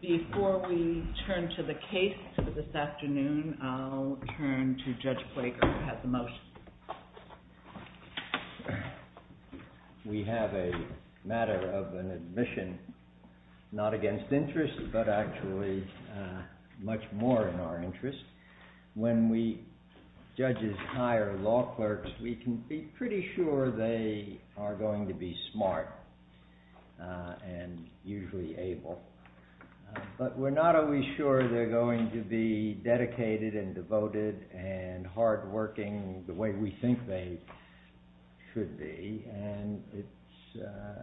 Before we turn to the case for this afternoon, I'll turn to Judge Quaker who has the motion. We have a matter of an admission not against interest, but actually much more in our interest. When judges hire law clerks, we can be pretty sure they are going to be smart and usually able. But we're not always sure they're going to be dedicated and devoted and hardworking the way we think they should be. And it's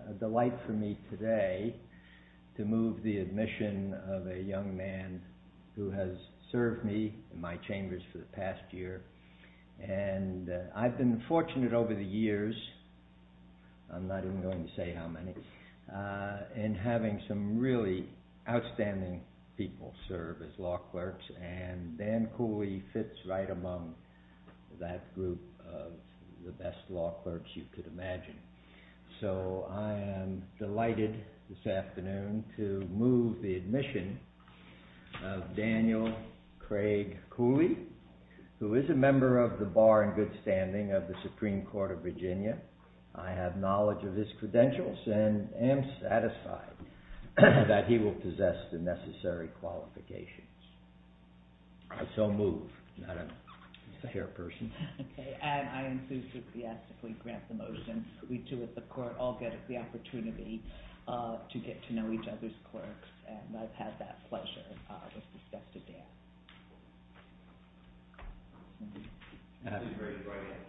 a delight for me today to move the admission of a young man who has served me in my chambers for the past year. And I've been fortunate over the years, I'm not even going to say how many, in having some really outstanding people serve as law clerks, and Dan Cooley fits right among that group of the best law clerks you could imagine. So I am delighted this afternoon to move the admission of Daniel Craig Cooley, who is a member of the bar in good standing of the Supreme Court of Virginia. I have knowledge of his credentials and am satisfied that he will possess the necessary qualifications. So move. Not a fair person. And I enthusiastically grant the motion. We two at the court all get the opportunity to get to know each other's clerks. And I've had that pleasure with the step to Dan. Absolutely. Great. Right on.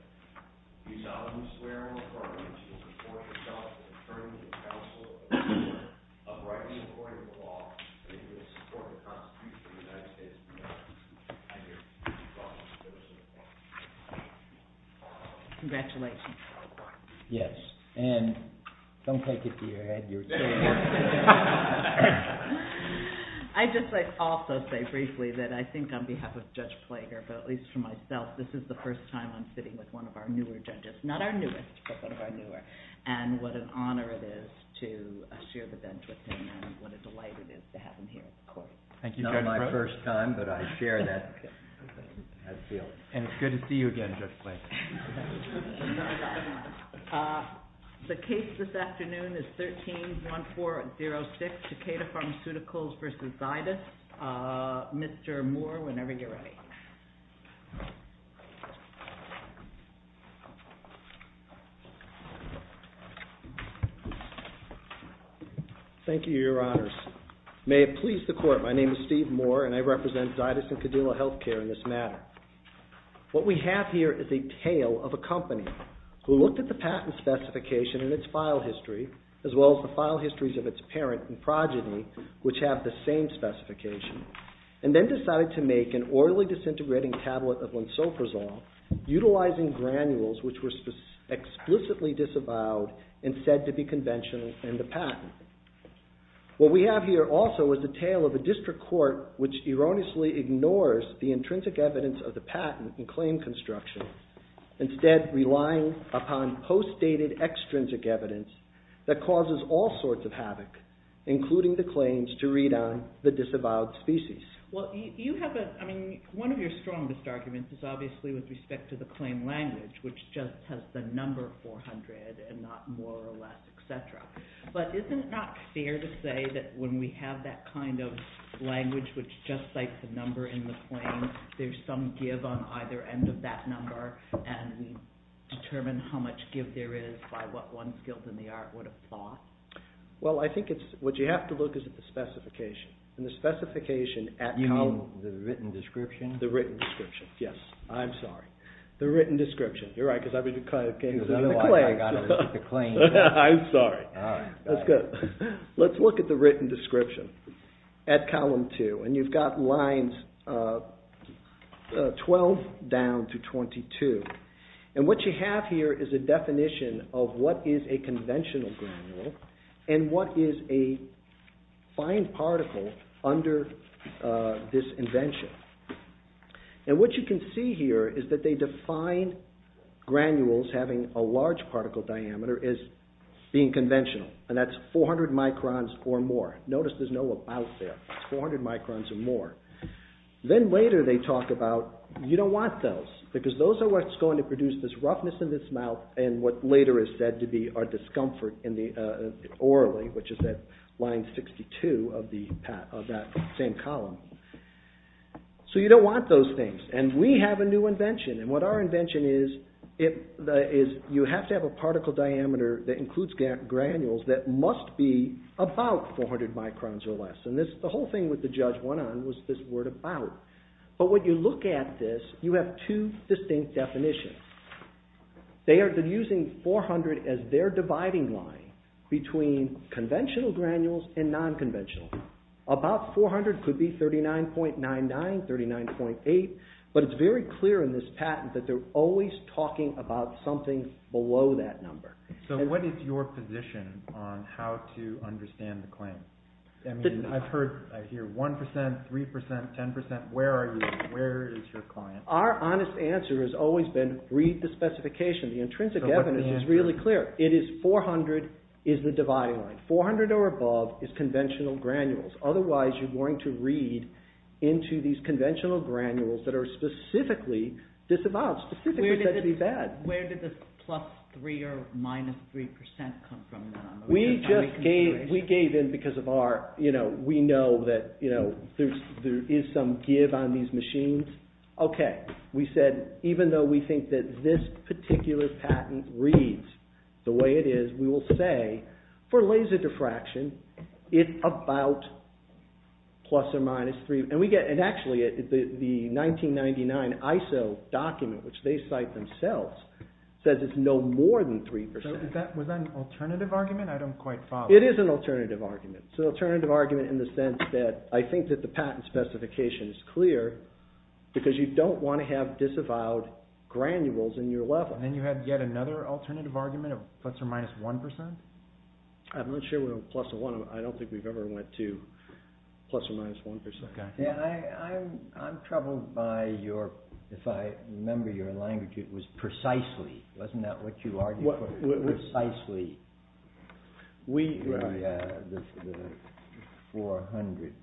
Do you solemnly swear or affirm that you will support yourself as attorney and counsel of a court of the law and that you will support the Constitution of the United States of America? I do. Do you solemnly swear or affirm that you will support yourself as attorney and counsel of a court of the law? Congratulations. Yes. And don't take it to your head. You're saying it. I'd just like to also say briefly that I think on behalf of Judge Plager, but at least for myself, this is the first time I'm sitting with one of our newer judges. Not our newest, but one of our newer. And what an honor it is to share the bench with him and what a delight it is to have him here at the court. Thank you, Judge. It's not my first time, but I share that field. And it's good to see you again, Judge Plager. The case this afternoon is 13-1406, Takeda Pharmaceuticals v. Zydus. Mr. Moore, whenever you're ready. Thank you, Your Honors. May it please the court, my name is Steve Moore and I represent Zydus and Cadillo Healthcare in this matter. What we have here is a tale of a company who looked at the patent specification and its file history, as well as the file histories of its parent and progeny, which have the same specification, and then decided to make an orally disintegrating tablet of lensoprazole, utilizing granules which were explicitly disavowed and said to be conventional in the patent. What we have here also is a tale of a district court which erroneously ignores the intrinsic evidence of the patent and claim construction, instead relying upon post-dated extrinsic evidence that causes all sorts of havoc, including the claims to read on the disavowed species. One of your strongest arguments is obviously with respect to the claim language, which just has the number 400 and not more or less, etc. But isn't it not fair to say that when we have that kind of language which just cites the number in the claim, there's some give on either end of that number and we determine how much give there is by what one skilled in the art would have thought? Well, I think what you have to look is at the specification, and the specification at column... You mean the written description? The written description, yes. I'm sorry. The written description. You're right, because I would have kind of gave it to you on the claim. I got it on the claim. I'm sorry. All right. That's good. Let's look at the written description at column 2, and you've got lines 12 down to 22. And what you have here is a definition of what is a conventional granule, and what is a fine particle under this invention. And what you can see here is that they define granules having a large particle diameter as being conventional, and that's 400 microns or more. Notice there's no about there. It's 400 microns or more. Then later they talk about, you don't want those, because those are what's going to produce this roughness in this mouth and what later is said to be our discomfort orally, which is at line 62 of that same column. So you don't want those things, and we have a new invention. And what our invention is, you have to have a particle diameter that includes granules that must be about 400 microns or less. And the whole thing with the Judge went on was this word about. But when you look at this, you have two distinct definitions. They are using 400 as their dividing line between conventional granules and non-conventional. About 400 could be 39.99, 39.8, but it's very clear in this patent that they're always talking about something below that number. So what is your position on how to understand the claim? I mean, I've heard, I hear 1%, 3%, 10%. Where are you? Where is your client? Our honest answer has always been, read the specification. The intrinsic evidence is really clear. It is 400 is the dividing line. 400 or above is conventional granules. Otherwise, you're going to read into these conventional granules that are specifically disavowed, specifically said to be bad. Where did the plus 3 or minus 3% come from? We just gave in because of our, we know that there is some give on these machines. Okay, we said, even though we think that this particular patent reads the way it is, we will say, for laser diffraction, it's about plus or minus 3%. And actually, the 1999 ISO document, which they cite themselves, says it's no more than 3%. Was that an alternative argument? I don't quite follow. It is an alternative argument. It's an alternative argument in the sense that I think that the patent specification is clear, because you don't want to have disavowed granules in your level. And you had yet another alternative argument of plus or minus 1%? I'm not sure we're on plus or minus 1%. I don't think we've ever went to plus or minus 1%. Okay. I'm troubled by your, if I remember your language, it was precisely. Wasn't that what you argued for? Precisely. We, the 400,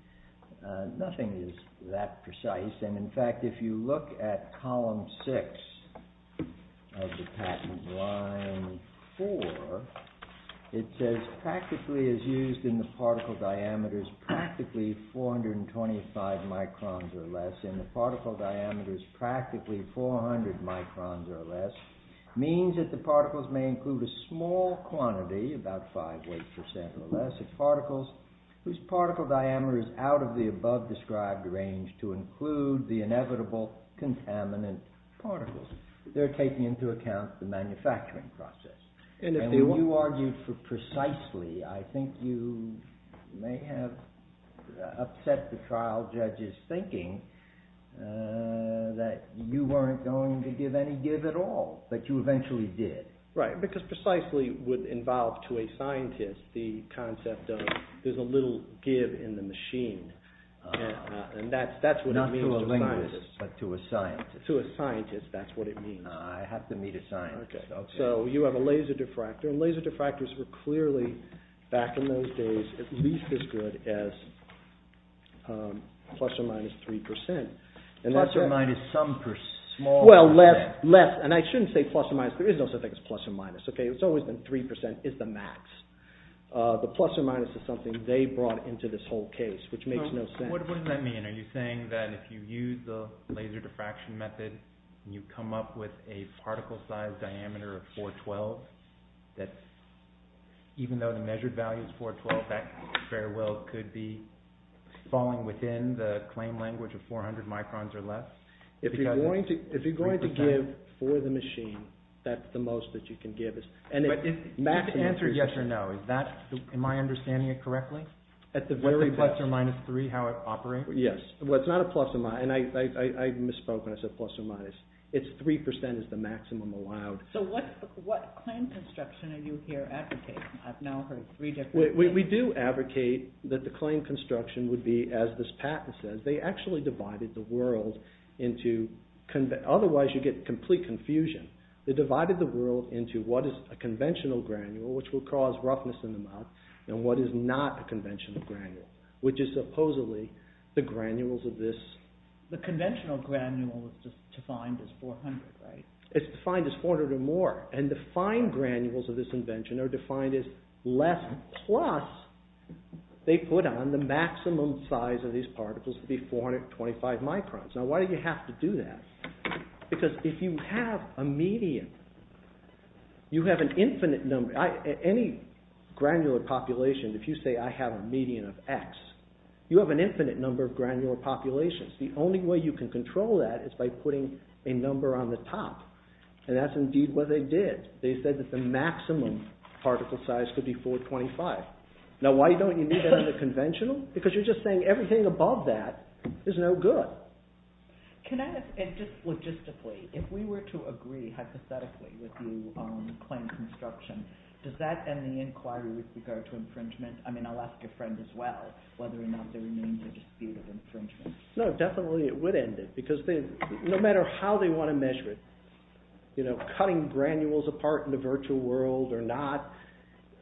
nothing is that precise. And in fact, if you look at column 6 of the patent line 4, it says, practically as used in the particle diameters, practically 425 microns or less, in the particle diameters, practically 400 microns or less, means that the particles may include a small quantity, about 5, 8% or less, of particles whose particle diameter is out of the above described range to include the inevitable contaminant particles. They're taking into account the manufacturing process. And when you argued for precisely, I think you may have upset the trial judge's thinking that you weren't going to give any give at all, but you eventually did. Right, because precisely would involve to a scientist the concept of there's a little give in the machine. And that's what it means to a scientist. Not to a linguist, but to a scientist. To a scientist, that's what it means. I have to meet a scientist. Okay. So you have a laser diffractor, and laser diffractors were clearly, back in those days, at least as good as plus or minus 3%. Plus or minus some small... Well, less. And I shouldn't say plus or minus. There is no such thing as plus or minus. It's always been 3% is the max. The plus or minus is something they brought into this whole case, which makes no sense. What does that mean? Are you saying that if you use the laser diffraction method, and you come up with a particle size diameter of 412, that even though the measured value is 412, that farewell could be falling within the claim language of 400 microns or less? If you're going to give for the machine, that's the most that you can give. But if the answer is yes or no, am I understanding it correctly? At the very best. What's a plus or minus 3, how it operates? Yes. Well, it's not a plus or minus. And I misspoke when I said plus or minus. It's 3% is the maximum allowed. So what claim construction are you here advocating? We do advocate that the claim construction would be, as this patent says, they actually divided the world into, otherwise you get complete confusion. They divided the world into what is a conventional granule, which will cause roughness in the mouth, and what is not a conventional granule, which is supposedly the granules of this. The conventional granule is defined as 400, right? It's defined as 400 or more. And the fine granules of this invention are defined as less plus. They put on the maximum size of these particles to be 425 microns. Now, why do you have to do that? Because if you have a median, you have an infinite number. Any granular population, if you say I have a median of X, you have an infinite number of granular populations. The only way you can control that is by putting a number on the top. And that's indeed what they did. They said that the maximum particle size could be 425. Now, why don't you need that in the conventional? Because you're just saying everything above that is no good. Can I ask, and just logistically, if we were to agree hypothetically with you on the claim of construction, does that end the inquiry with regard to infringement? I mean, I'll ask your friend as well, whether or not there remains a dispute of infringement. No, definitely it would end it, because no matter how they want to measure it, cutting granules apart in the virtual world or not,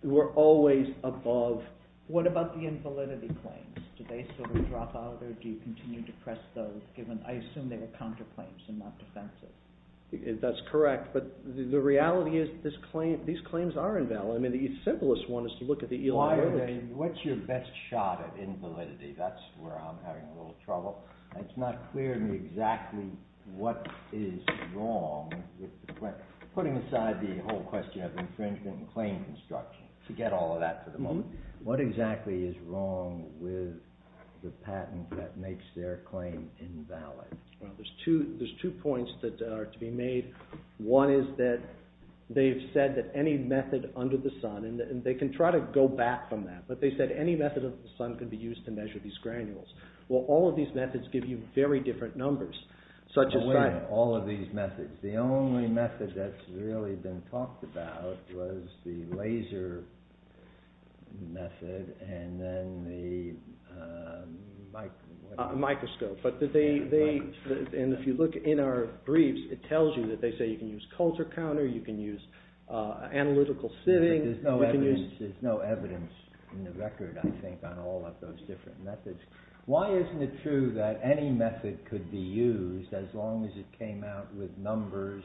we're always above... What about the invalidity claims? Do they sort of drop out, or do you continue to press those, given I assume they were counterclaims and not defensive? That's correct, but the reality is these claims are invalid. I mean, the simplest one is to look at the ELR... What's your best shot at invalidity? That's where I'm having a little trouble. It's not clear to me exactly what is wrong... Putting aside the whole question of infringement and claim construction, to get all of that for the moment, what exactly is wrong with the patent that makes their claim invalid? Well, there's two points that are to be made. One is that they've said that any method under the sun... And they can try to go back from that, but they said any method under the sun can be used to measure these granules. Well, all of these methods give you very different numbers. Wait a minute. All of these methods? The only method that's really been talked about was the laser method, and then the microscope. And if you look in our briefs, it tells you that they say you can use culture counter, you can use analytical sitting... There's no evidence in the record, I think, on all of those different methods. Why isn't it true that any method could be used as long as it came out with numbers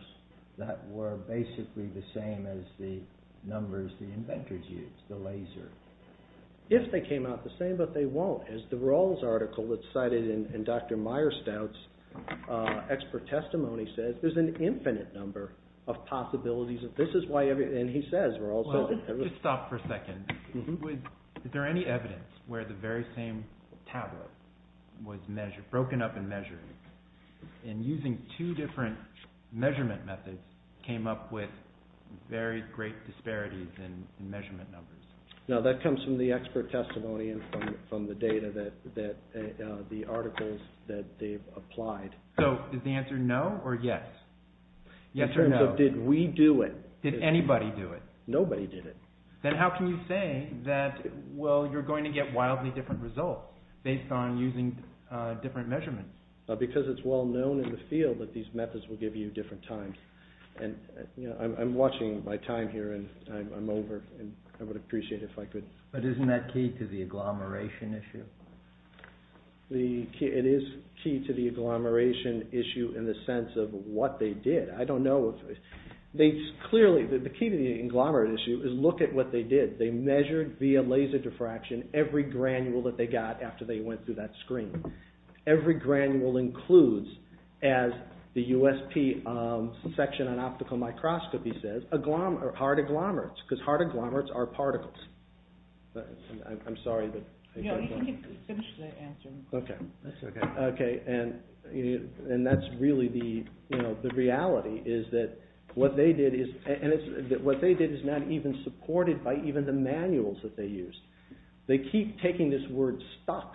that were basically the same as the numbers the inventors used, the laser? If they came out the same, but they won't. As the Rawls article that's cited in Dr. Meierstaudt's expert testimony says, there's an infinite number of possibilities. And he says, Rawls... Let's just stop for a second. Is there any evidence where the very same tablet was broken up and measured, and using two different measurement methods came up with very great disparities in measurement numbers? No, that comes from the expert testimony and from the data that... the articles that they've applied. So, is the answer no or yes? In terms of, did we do it? Did anybody do it? Nobody did it. Then how can you say that, well, you're going to get wildly different results based on using different measurements? Because it's well known in the field that these methods will give you different times. And, you know, I'm watching my time here, and I'm over, and I would appreciate if I could... But isn't that key to the agglomeration issue? It is key to the agglomeration issue in the sense of what they did. I don't know if... Clearly, the key to the agglomeration issue is look at what they did. They measured via laser diffraction every granule that they got after they went through that screen. Every granule includes, as the USP section on optical microscopy says, hard agglomerates, because hard agglomerates are particles. I'm sorry, but... No, you can finish the answer. Okay. Okay, and that's really the reality, is that what they did is... And what they did is not even supported by even the manuals that they used. They keep taking this word stuck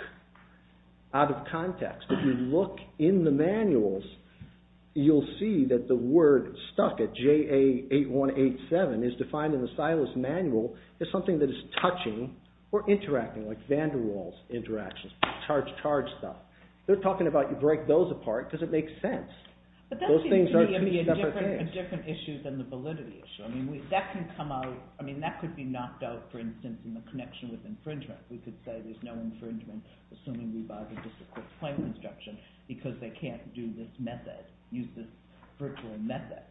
out of context. If you look in the manuals, you'll see that the word stuck at JA8187 is defined in the Silas manual as something that is touching or interacting, like van der Waals interactions, charge-charge stuff. They're talking about you break those apart because it makes sense. Those things are two separate things. A different issue than the validity issue. I mean, that could be knocked out, for instance, in the connection with infringement. We could say there's no infringement assuming we buy the discipline point instruction because they can't do this method, use this virtual method.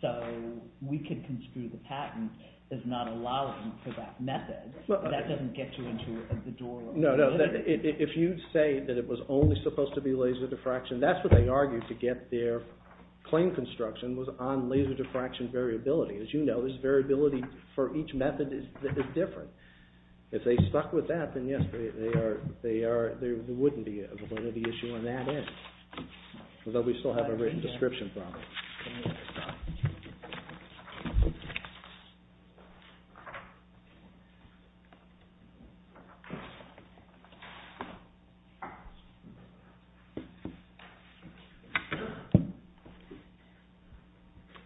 So we could construe the patent as not allowing for that method. That doesn't get you into the door. No, no, if you say that it was only supposed to be laser diffraction, that's what they argued to get their claim construction was on laser diffraction variability. As you know, this variability for each method is different. If they stuck with that, then yes, there wouldn't be a validity issue on that end. Although we still have a written description problem.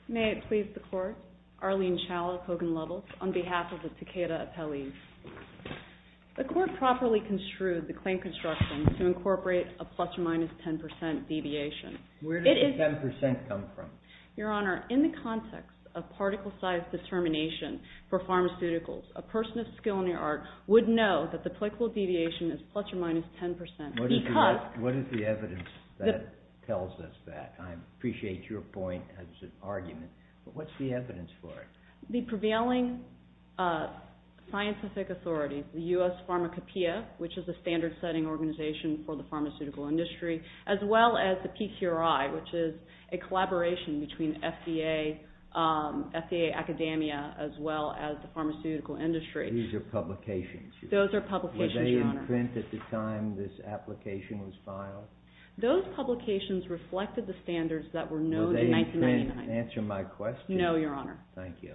May it please the court. Arlene Challis, Hogan Lovells, on behalf of the Takeda appellees. The court properly construed the claim construction to incorporate a plus or minus 10% deviation. Where does the 10% come from? Your Honor, in the context of particle size determination for pharmaceuticals, a person of skill in their art would know that the applicable deviation is plus or minus 10% because. What is the evidence? That tells us that. I appreciate your point as an argument. But what's the evidence for it? The prevailing scientific authorities, the US Pharmacopeia, which is a standard setting organization for the pharmaceutical industry, as well as the PCRI, which is a collaboration between FDA, FDA Academia, as well as the pharmaceutical industry. These are publications. Those are publications, Your Honor. Were they in print at the time this application was filed? Those publications reflected the standards that were known in 1999. Were they in print? Answer my question. No, Your Honor. Thank you.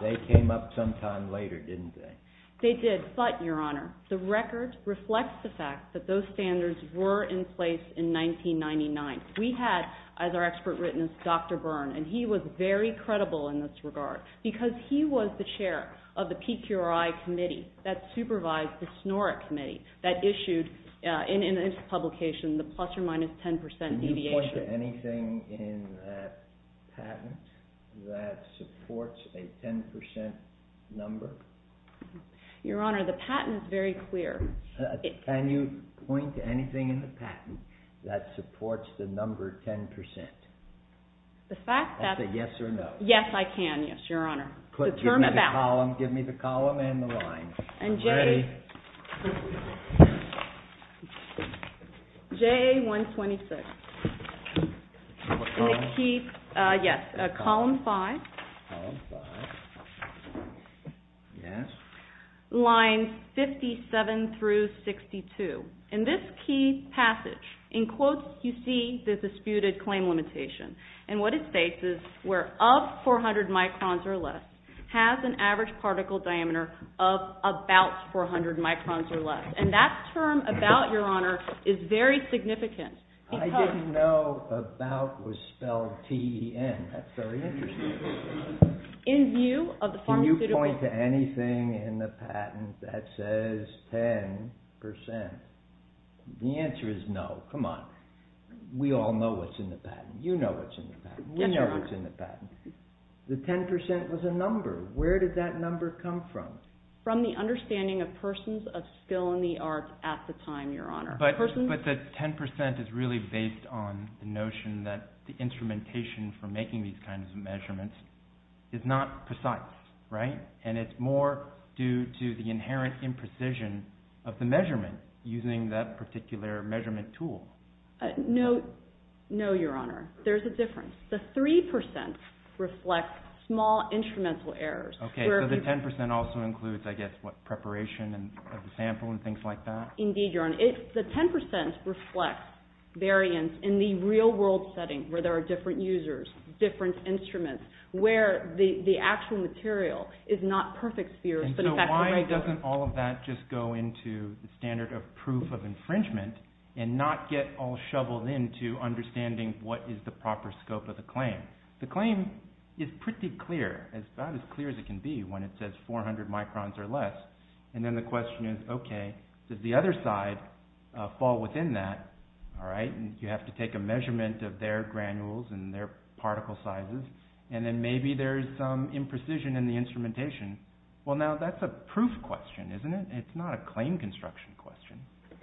They came up sometime later, didn't they? They did. But, Your Honor, the record reflects the fact that those standards were in place in 1999. We had, as our expert witness, Dr. Byrne. And he was very credible in this regard because he was the chair of the PCRI committee that supervised the SNORC committee that issued, in its publication, the plus or minus 10% deviation. Can you point to anything in that patent that supports a 10% number? Your Honor, the patent is very clear. Can you point to anything in the patent that supports the number 10%? The fact that... Answer yes or no. Yes, I can. The term about... Give me the column and the line. I'm ready. JA-126. What column? Yes, column 5. Column 5. Yes. Lines 57 through 62. In this key passage, in quotes, you see the disputed claim limitation. And what it states is, where of 400 microns or less, has an average particle diameter of about 400 microns. And that term, about, Your Honor, is very significant. I didn't know about was spelled T-E-N. That's very interesting. Can you point to anything in the patent that says 10%? The answer is no. Come on. We all know what's in the patent. You know what's in the patent. We know what's in the patent. The 10% was a number. Where did that number come from? From the understanding of persons of skill in the arts at the time, Your Honor. But the 10% is really based on the notion that the instrumentation for making these kinds of measurements is not precise, right? And it's more due to the inherent imprecision of the measurement using that particular measurement tool. No, Your Honor. There's a difference. The 3% reflect small instrumental errors. Okay, so the 10% also includes, I guess, what, preparation of the sample and things like that? Indeed, Your Honor. The 10% reflects variance in the real-world setting where there are different users, different instruments, where the actual material is not perfect sphere. And so why doesn't all of that just go into the standard of proof of infringement and not get all shoveled into understanding what is the proper scope of the claim? The claim is pretty clear. It's about as clear as it can be when it says 400 microns or less. And then the question is, okay, does the other side fall within that, all right? You have to take a measurement of their granules and their particle sizes, and then maybe there's some imprecision in the instrumentation. Well, now, that's a proof question, isn't it? It's not a claim construction question.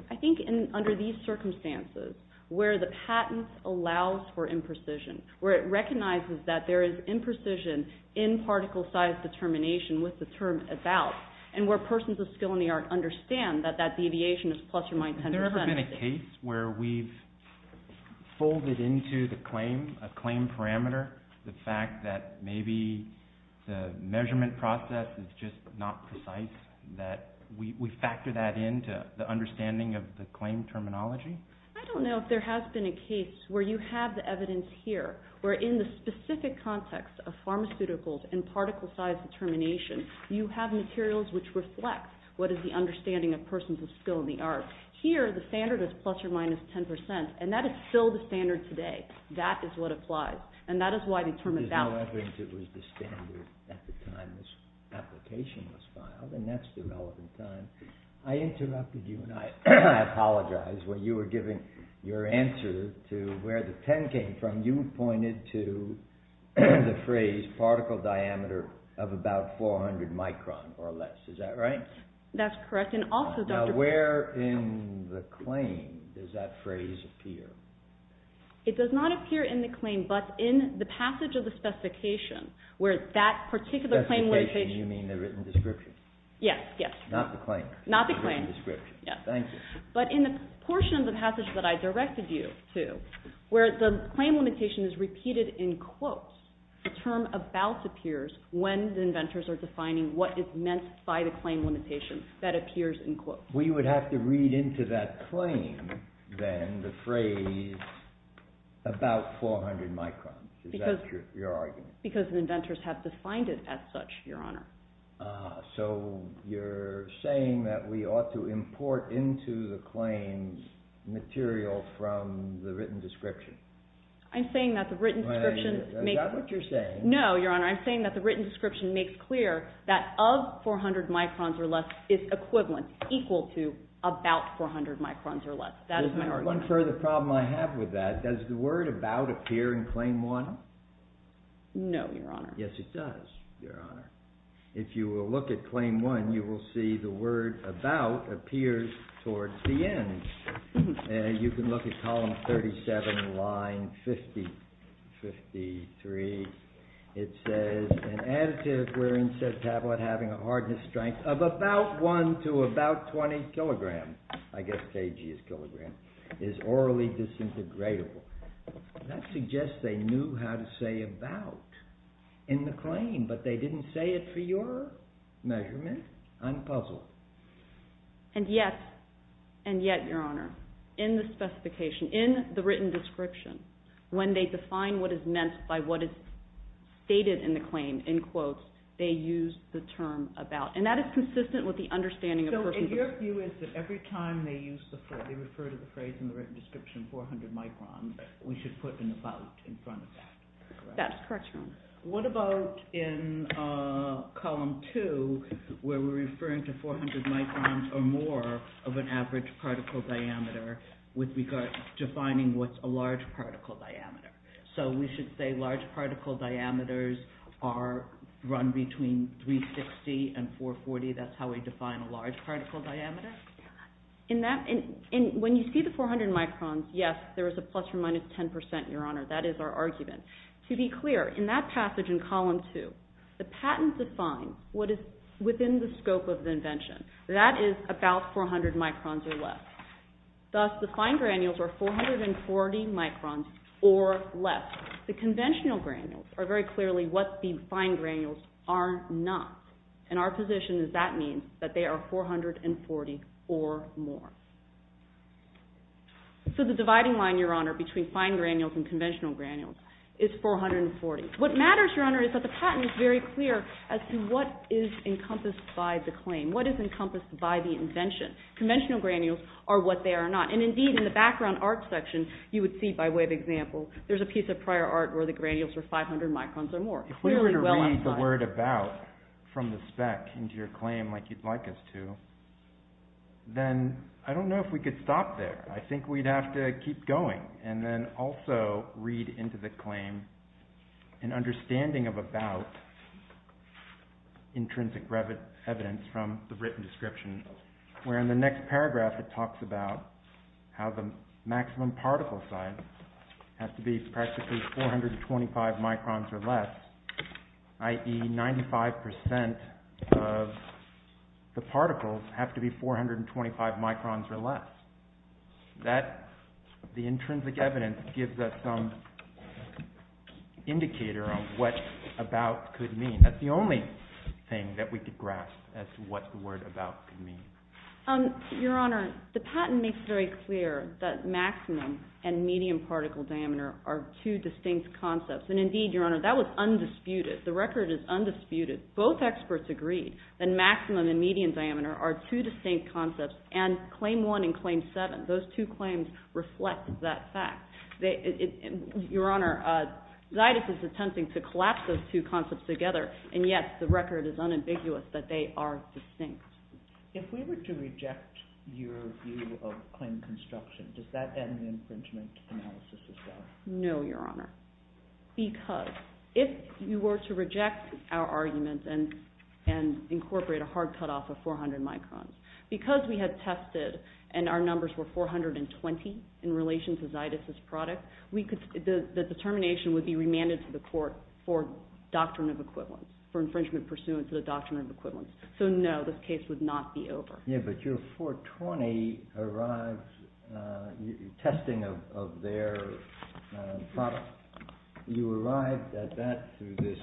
I think under these circumstances, where the patent allows for imprecision, where it recognizes that there is imprecision in particle size determination with the term about, and where persons of skill in the art understand that that deviation is plus or minus 10%. Has there ever been a case where we've folded into the claim a claim parameter, the fact that maybe the measurement process is just not precise, that we factor that into the understanding of the claim terminology? I don't know if there has been a case where you have the evidence here, where in the specific context of pharmaceuticals and particle size determination, you have materials which reflect what is the understanding of persons of skill in the art. Here, the standard is plus or minus 10%, and that is still the standard today. That is what applies, and that is why the term about... There's no evidence it was the standard at the time this application was filed, and that's the relevant time. I interrupted you, and I apologize. When you were giving your answer to where the 10 came from, you pointed to the phrase particle diameter of about 400 micron or less. Is that right? That's correct. Now, where in the claim does that phrase appear? It does not appear in the claim, but in the passage of the specification, where that particular claim... By specification, you mean the written description? Yes, yes. Not the claim? Not the claim. The written description. Yes. Thank you. But in the portion of the passage that I directed you to, where the claim limitation is repeated in quotes, the term about appears when the inventors are defining what is meant by the claim limitation that appears in quotes. We would have to read into that claim, then, the phrase about 400 microns. Is that your argument? Because the inventors have defined it as such, Your Honor. So you're saying that we ought to import into the claim material from the written description? I'm saying that the written description... Is that what you're saying? No, Your Honor. I'm saying that the written description makes clear that of 400 microns or less is equivalent, equal to, about 400 microns or less. That is my argument. One further problem I have with that, does the word about appear in Claim 1? No, Your Honor. Yes, it does, Your Honor. If you will look at Claim 1, you will see the word about appears towards the end. You can look at column 37, line 53. It says, An additive wherein said tablet having a hardness strength of about 1 to about 20 kilograms, I guess kg is kilogram, is orally disintegratable. That suggests they knew how to say about in the claim, but they didn't say it for your measurement. I'm puzzled. And yet, and yet, Your Honor, in the specification, in the written description, when they define what is meant by what is stated in the claim in quotes, they use the term about. And that is consistent with the understanding of... So your view is that every time they refer to the phrase in the written description, 400 microns, we should put an about in front of that, correct? That's correct, Your Honor. What about in column 2, where we're referring to 400 microns or more of an average particle diameter with regard to defining what's a large particle diameter. So we should say large particle diameters are run between 360 and 440. That's how we define a large particle diameter. In that, when you see the 400 microns, yes, there is a plus or minus 10%, Your Honor. That is our argument. To be clear, in that passage in column 2, the patents define what is within the scope of the invention. That is about 400 microns or less. Thus, the fine granules are 440 microns or less. The conventional granules are very clearly what the fine granules are not. And our position is that means that they are 440 or more. So the dividing line, Your Honor, between fine granules and conventional granules is 440. What matters, Your Honor, is that the patent is very clear as to what is encompassed by the claim, what is encompassed by the invention. Conventional granules are what they are not. And indeed, in the background art section, you would see, by way of example, there's a piece of prior art where the granules were 500 microns or more. If we were to read the word about from the spec into your claim like you'd like us to, then I don't know if we could stop there. I think we'd have to keep going and then also read into the claim an understanding of about intrinsic evidence from the written description where in the next paragraph it talks about how the maximum particle size has to be practically 425 microns or less, i.e. 95% of the particles have to be 425 microns or less. That, the intrinsic evidence, gives us some indicator of what about could mean. That's the only thing that we could grasp as to what the word about could mean. Your Honor, the patent makes very clear that maximum and medium particle diameter are two distinct concepts. And indeed, Your Honor, that was undisputed. The record is undisputed. Both experts agreed that maximum and medium diameter are two distinct concepts and Claim 1 and Claim 7, those two claims reflect that fact. Your Honor, Zeidis is attempting to collapse those two concepts together and yet the record is unambiguous that they are distinct. If we were to reject your view of claim construction, does that end the infringement analysis as well? No, Your Honor. Because if you were to reject our argument and incorporate a hard cutoff of 400 microns, because we had tested and our numbers were 420 in relation to Zeidis' product, the determination would be remanded to the court for doctrine of equivalence, for infringement pursuant to the doctrine of equivalence. So no, this case would not be over. Yeah, but your 420 arrives, testing of their product, you arrived at that through this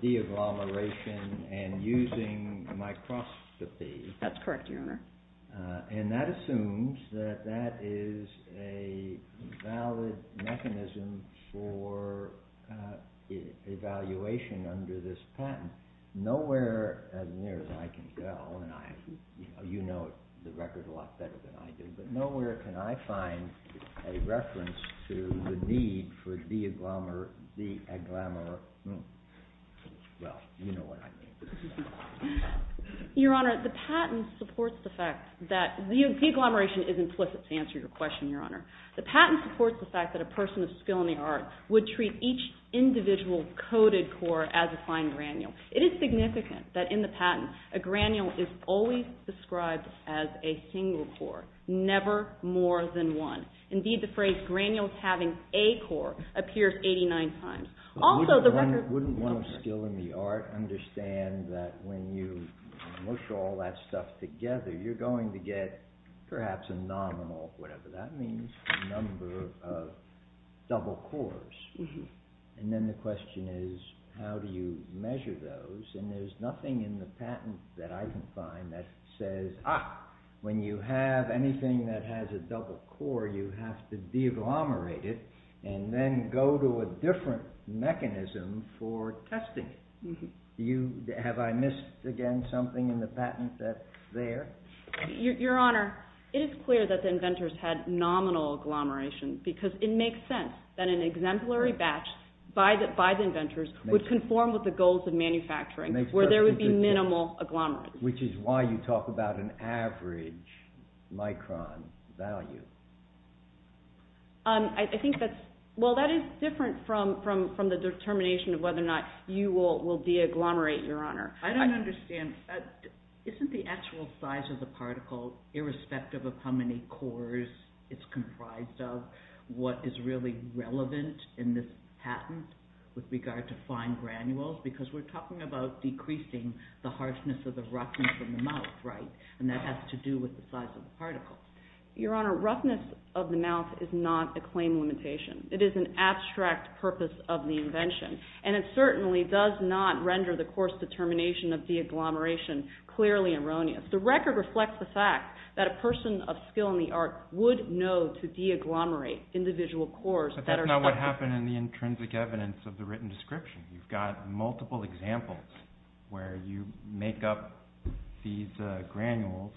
de-agglomeration and using microscopy. That's correct, Your Honor. And that assumes that that is a valid mechanism for evaluation under this patent. Nowhere as near as I can go, and you know the record a lot better than I do, but nowhere can I find a reference to the need for de-agglomer... Well, you know what I mean. Your Honor, the patent supports the fact that... De-agglomeration is implicit to answer your question, Your Honor. The patent supports the fact that a person of skill in the art would treat each individual coded core as a fine granule. It is significant that in the patent a granule is always described as a single core, never more than one. Indeed, the phrase granules having a core appears 89 times. Also, the record... Wouldn't one of skill in the art understand that when you mush all that stuff together, you're going to get perhaps a nominal, whatever that means, number of double cores? And then the question is, how do you measure those? And there's nothing in the patent that I can find that says, ah, when you have anything that has a double core, you have to de-agglomerate it and then go to a different mechanism for testing it. Have I missed, again, something in the patent that's there? Your Honor, it is clear that the inventors had nominal agglomeration because it makes sense that an exemplary batch by the inventors would conform with the goals of manufacturing, where there would be minimal agglomeration. Which is why you talk about an average micron value. I think that's... Well, that is different from the determination of whether or not you will de-agglomerate, Your Honor. I don't understand. Isn't the actual size of the particle, irrespective of how many cores it's comprised of, what is really relevant in this patent with regard to fine granules? Because we're talking about decreasing the harshness of the roughness of the mouth, right? And that has to do with the size of the particle. Your Honor, roughness of the mouth is not a claim limitation. It is an abstract purpose of the invention. And it certainly does not render the coarse determination of de-agglomeration clearly erroneous. The record reflects the fact that a person of skill in the art would know to de-agglomerate individual cores that are... But that's not what happened in the intrinsic evidence of the written description. You've got multiple examples where you make up these granules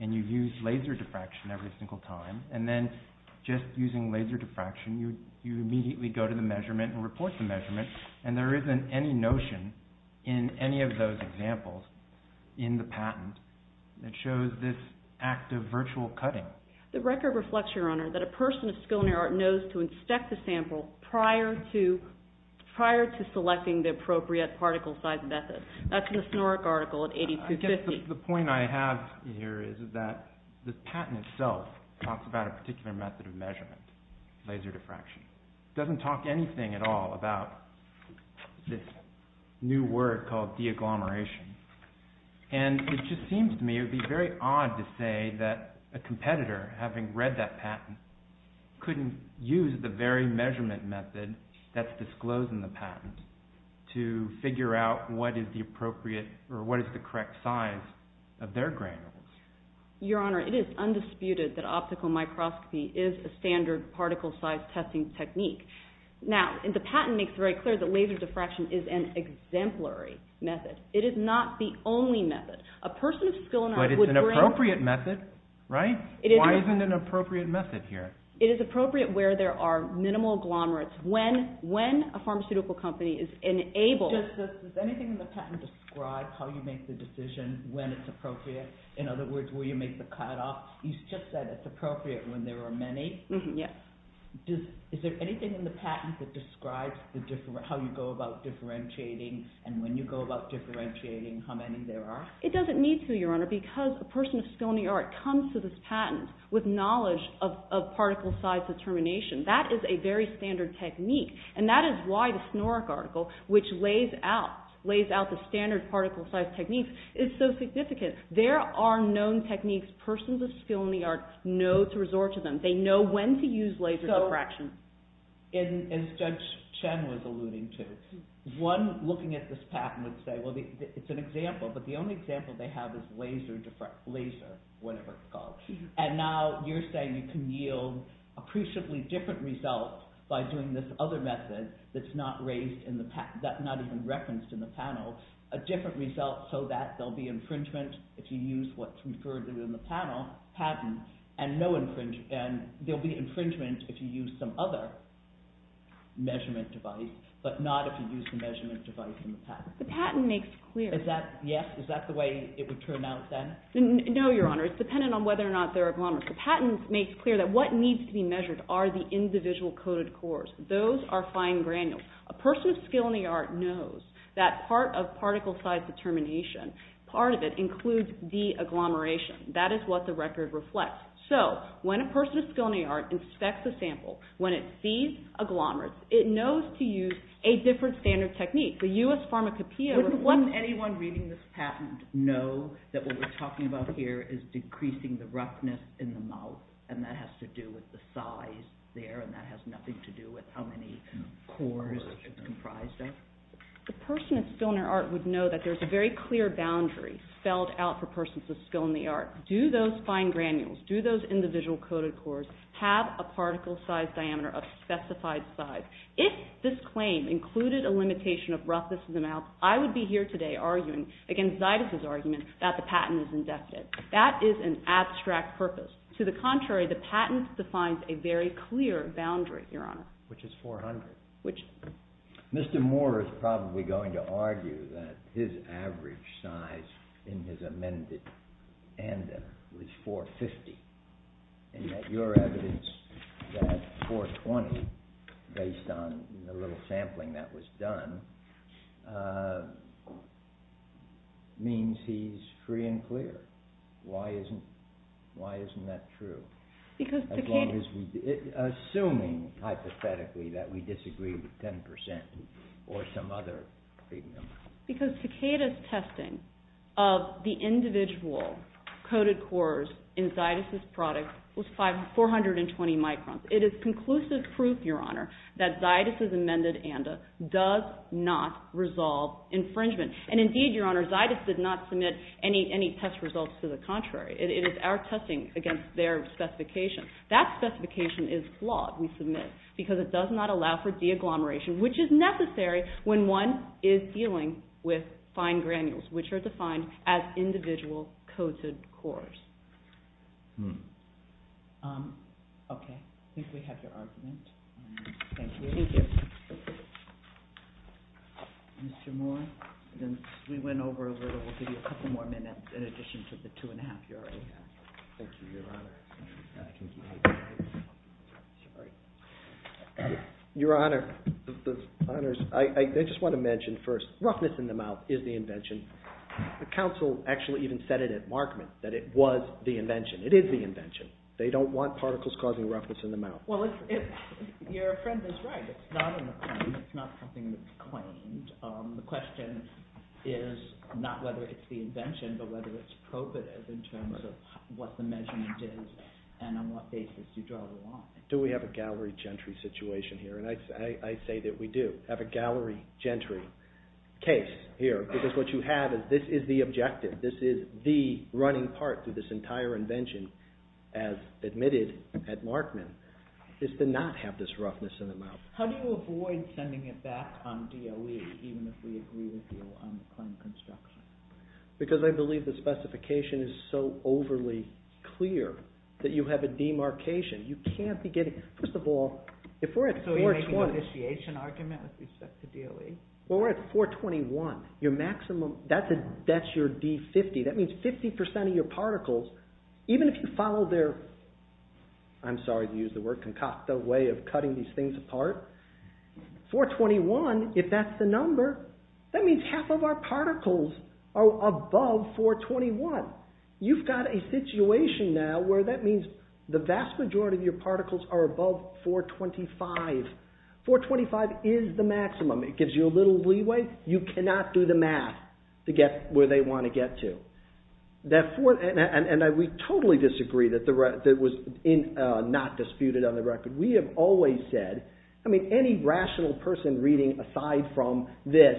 and you've used laser diffraction every single time, and then just using laser diffraction, you immediately go to the measurement and report the measurement, and there isn't any notion in any of those examples in the patent that shows this act of virtual cutting. The record reflects, Your Honor, that a person of skill in the art knows to inspect the sample prior to selecting the appropriate particle size method. That's in the Snorek article at 8250. I think the point I have here is that the patent itself talks about a particular method of measurement, laser diffraction. It doesn't talk anything at all about this new word called de-agglomeration. And it just seems to me it would be very odd to say that a competitor, having read that patent, couldn't use the very measurement method that's disclosed in the patent to figure out what is the appropriate or what is the correct size of their granules. Your Honor, it is undisputed that optical microscopy is a standard particle size testing technique. Now, the patent makes it very clear that laser diffraction is an exemplary method. It is not the only method. A person of skill in the art would bring... But it's an appropriate method, right? Why isn't it an appropriate method here? It is appropriate where there are minimal agglomerates. When a pharmaceutical company is enabled... Does anything in the patent describe how you make the decision when it's appropriate? In other words, will you make the cutoff? You just said it's appropriate when there are many. Yes. Is there anything in the patent that describes how you go about differentiating and when you go about differentiating how many there are? It doesn't need to, Your Honor, because a person of skill in the art comes to this patent with knowledge of particle size determination. That is a very standard technique. And that is why the Snorek article, which lays out the standard particle size techniques, is so significant. There are known techniques persons of skill in the art know to resort to them. They know when to use laser diffraction. As Judge Chen was alluding to, one looking at this patent would say, well, it's an example, but the only example they have is laser diffraction, laser, whatever it's called. And now you're saying you can yield appreciably different results by doing this other method that's not even referenced in the panel, a different result so that there'll be infringement if you use what's referred to in the panel, patent, and there'll be infringement if you use some other measurement device, but not if you use the measurement device in the patent. The patent makes clear... Is that, yes? Is that the way it would turn out then? No, Your Honor. It's dependent on whether or not there are problems. The patent makes clear that what needs to be measured are the individual coded cores. Those are fine granules. A person with skill in the art knows that part of particle size determination, part of it includes de-agglomeration. That is what the record reflects. So when a person with skill in the art inspects a sample, when it sees agglomerates, it knows to use a different standard technique. The U.S. Pharmacopeia... Wouldn't anyone reading this patent know that what we're talking about here is decreasing the roughness in the mouth, and that has to do with the size there, and that has nothing to do with how many cores it's comprised of? A person with skill in the art would know that there's a very clear boundary spelled out for persons with skill in the art. Do those fine granules, do those individual coded cores, have a particle size diameter of specified size? If this claim included a limitation of roughness in the mouth, I would be here today arguing, against Zytus' argument, that the patent is indefinite. That is an abstract purpose. To the contrary, the patent defines a very clear boundary, Your Honor. Which is 400. Which... Mr. Moore is probably going to argue that his average size in his amended ANDA was 450, and that your evidence that 420, based on the little sampling that was done, means he's free and clear. Why isn't that true? Assuming, hypothetically, that we disagree with 10%, or some other freedom. Because Takeda's testing of the individual coded cores in Zytus' product was 420 microns. It is conclusive proof, Your Honor, that Zytus' amended ANDA does not resolve infringement. And indeed, Your Honor, Zytus did not submit any test results to the contrary. It is our testing against their specification. That specification is flawed, we submit, because it does not allow for de-agglomeration, which is necessary when one is dealing with fine granules, which are defined as individual coded cores. Okay. I think we have your argument. Thank you. Thank you. Mr. Moore, since we went over a little, we'll give you a couple more minutes in addition to the two and a half you already had. Thank you, Your Honor. Your Honor, I just want to mention first, roughness in the mouth is the invention. The counsel actually even said it at Markman, that it was the invention. It is the invention. They don't want particles causing roughness in the mouth. Well, your friend is right. It's not an acclaim. It's not something that's claimed. The question is not whether it's the invention, but whether it's probative in terms of what the measurement is and on what basis you draw the line. Do we have a gallery gentry situation here? And I say that we do have a gallery gentry case here, because what you have is this is the objective. This is the running part to this entire invention, as admitted at Markman, is to not have this roughness in the mouth. How do you avoid sending it back on DOE, even if we agree with you on the claim of construction? Because I believe the specification is so overly clear that you have a demarcation. You can't be getting... First of all, if we're at 420... So you're making an initiation argument with respect to DOE? Well, we're at 421. Your maximum... That's your D50. That means 50% of your particles, even if you follow their... I'm sorry to use the word concocta way of cutting these things apart. 421, if that's the number, that means half of our particles are above 421. You've got a situation now where that means the vast majority of your particles are above 425. 425 is the maximum. It gives you a little leeway. You cannot do the math to get where they want to get to. And we totally disagree that was not disputed on the record. We have always said... I mean, any rational person reading aside from this,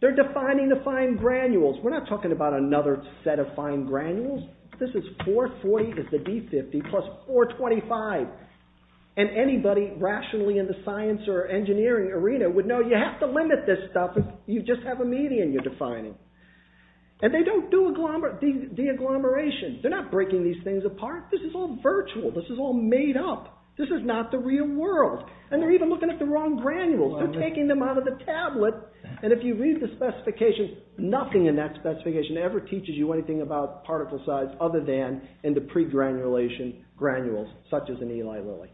they're defining the fine granules. We're not talking about another set of fine granules. This is 440 is the D50 plus 425. And anybody rationally in the science or engineering arena would know you have to limit this stuff if you just have a median you're defining. And they don't do de-agglomeration. They're not breaking these things apart. This is all virtual. This is all made up. This is not the real world. And they're even looking at the wrong granules. They're taking them out of the tablet. And if you read the specifications, nothing in that specification ever teaches you anything about particle size other than in the pre-granulation granules such as in Eli Lilly.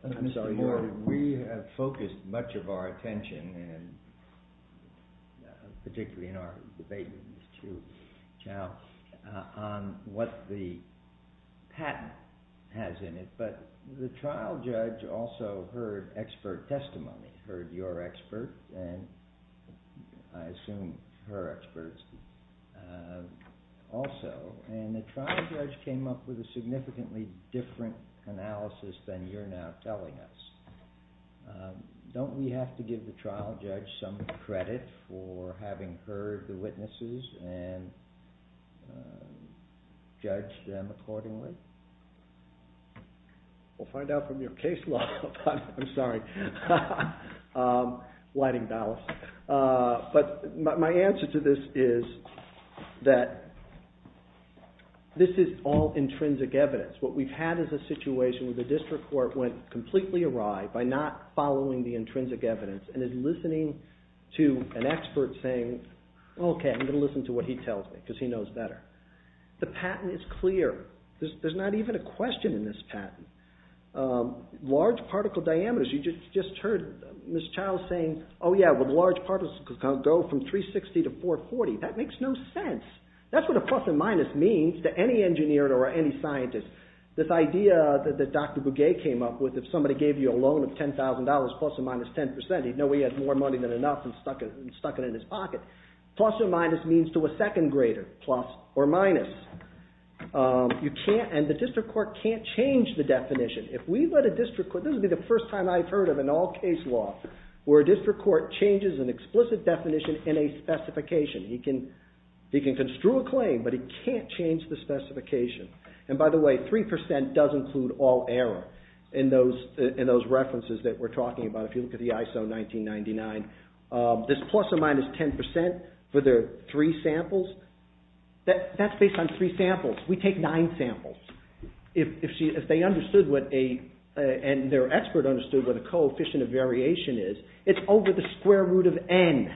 We have focused much of our attention and particularly in our debate with Ms. Chu on what the patent has in it. But the trial judge also heard expert testimony, heard your expert and I assume her experts also. And the trial judge came up with a significantly different analysis than you're now telling us. Don't we have to give the trial judge some credit for having heard the witnesses and judge them accordingly? We'll find out from your case law. I'm sorry. Whiting Dallas. But my answer to this is that this is all intrinsic evidence. What we've had is a situation where the district court went completely awry by not following the intrinsic evidence and is listening to an expert saying, okay, I'm going to listen to what he tells me because he knows better. The patent is clear. There's not even a question in this patent. Large particle diameters, you just heard Ms. Chu saying, oh yeah, well large particles can go from 360 to 440. That makes no sense. That's what a plus and minus means to any engineer or any scientist. This idea that Dr. Bugay came up with, if somebody gave you a loan of $10,000 plus or minus 10%, he'd know he had more money than enough and stuck it in his pocket. Plus or minus means to a second grader, plus or minus. And the district court can't change the definition. If we let a district court, this will be the first time I've heard of an all case law where a district court changes an explicit definition in a specification. He can construe a claim, but he can't change the specification. And by the way, 3% does include all error in those references that we're talking about. If you look at the ISO 1999, this plus or minus 10% for the three samples, that's based on three samples. We take nine samples. If they understood what a, and their expert understood what a coefficient of variation is, it's over the square root of n.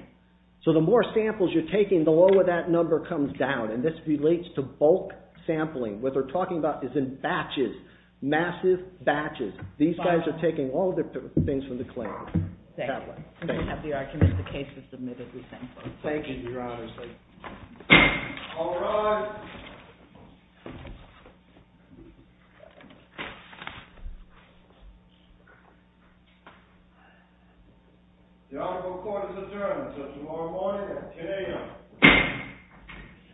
So the more samples you're taking, the lower that number comes down. And this relates to bulk sampling. What they're talking about is in batches, massive batches. These guys are taking all different things from the claim. Thank you. We have the argument. The case is submitted. We thank you. Thank you, Your Honor. All rise. The article of court is adjourned until tomorrow morning at 10 AM.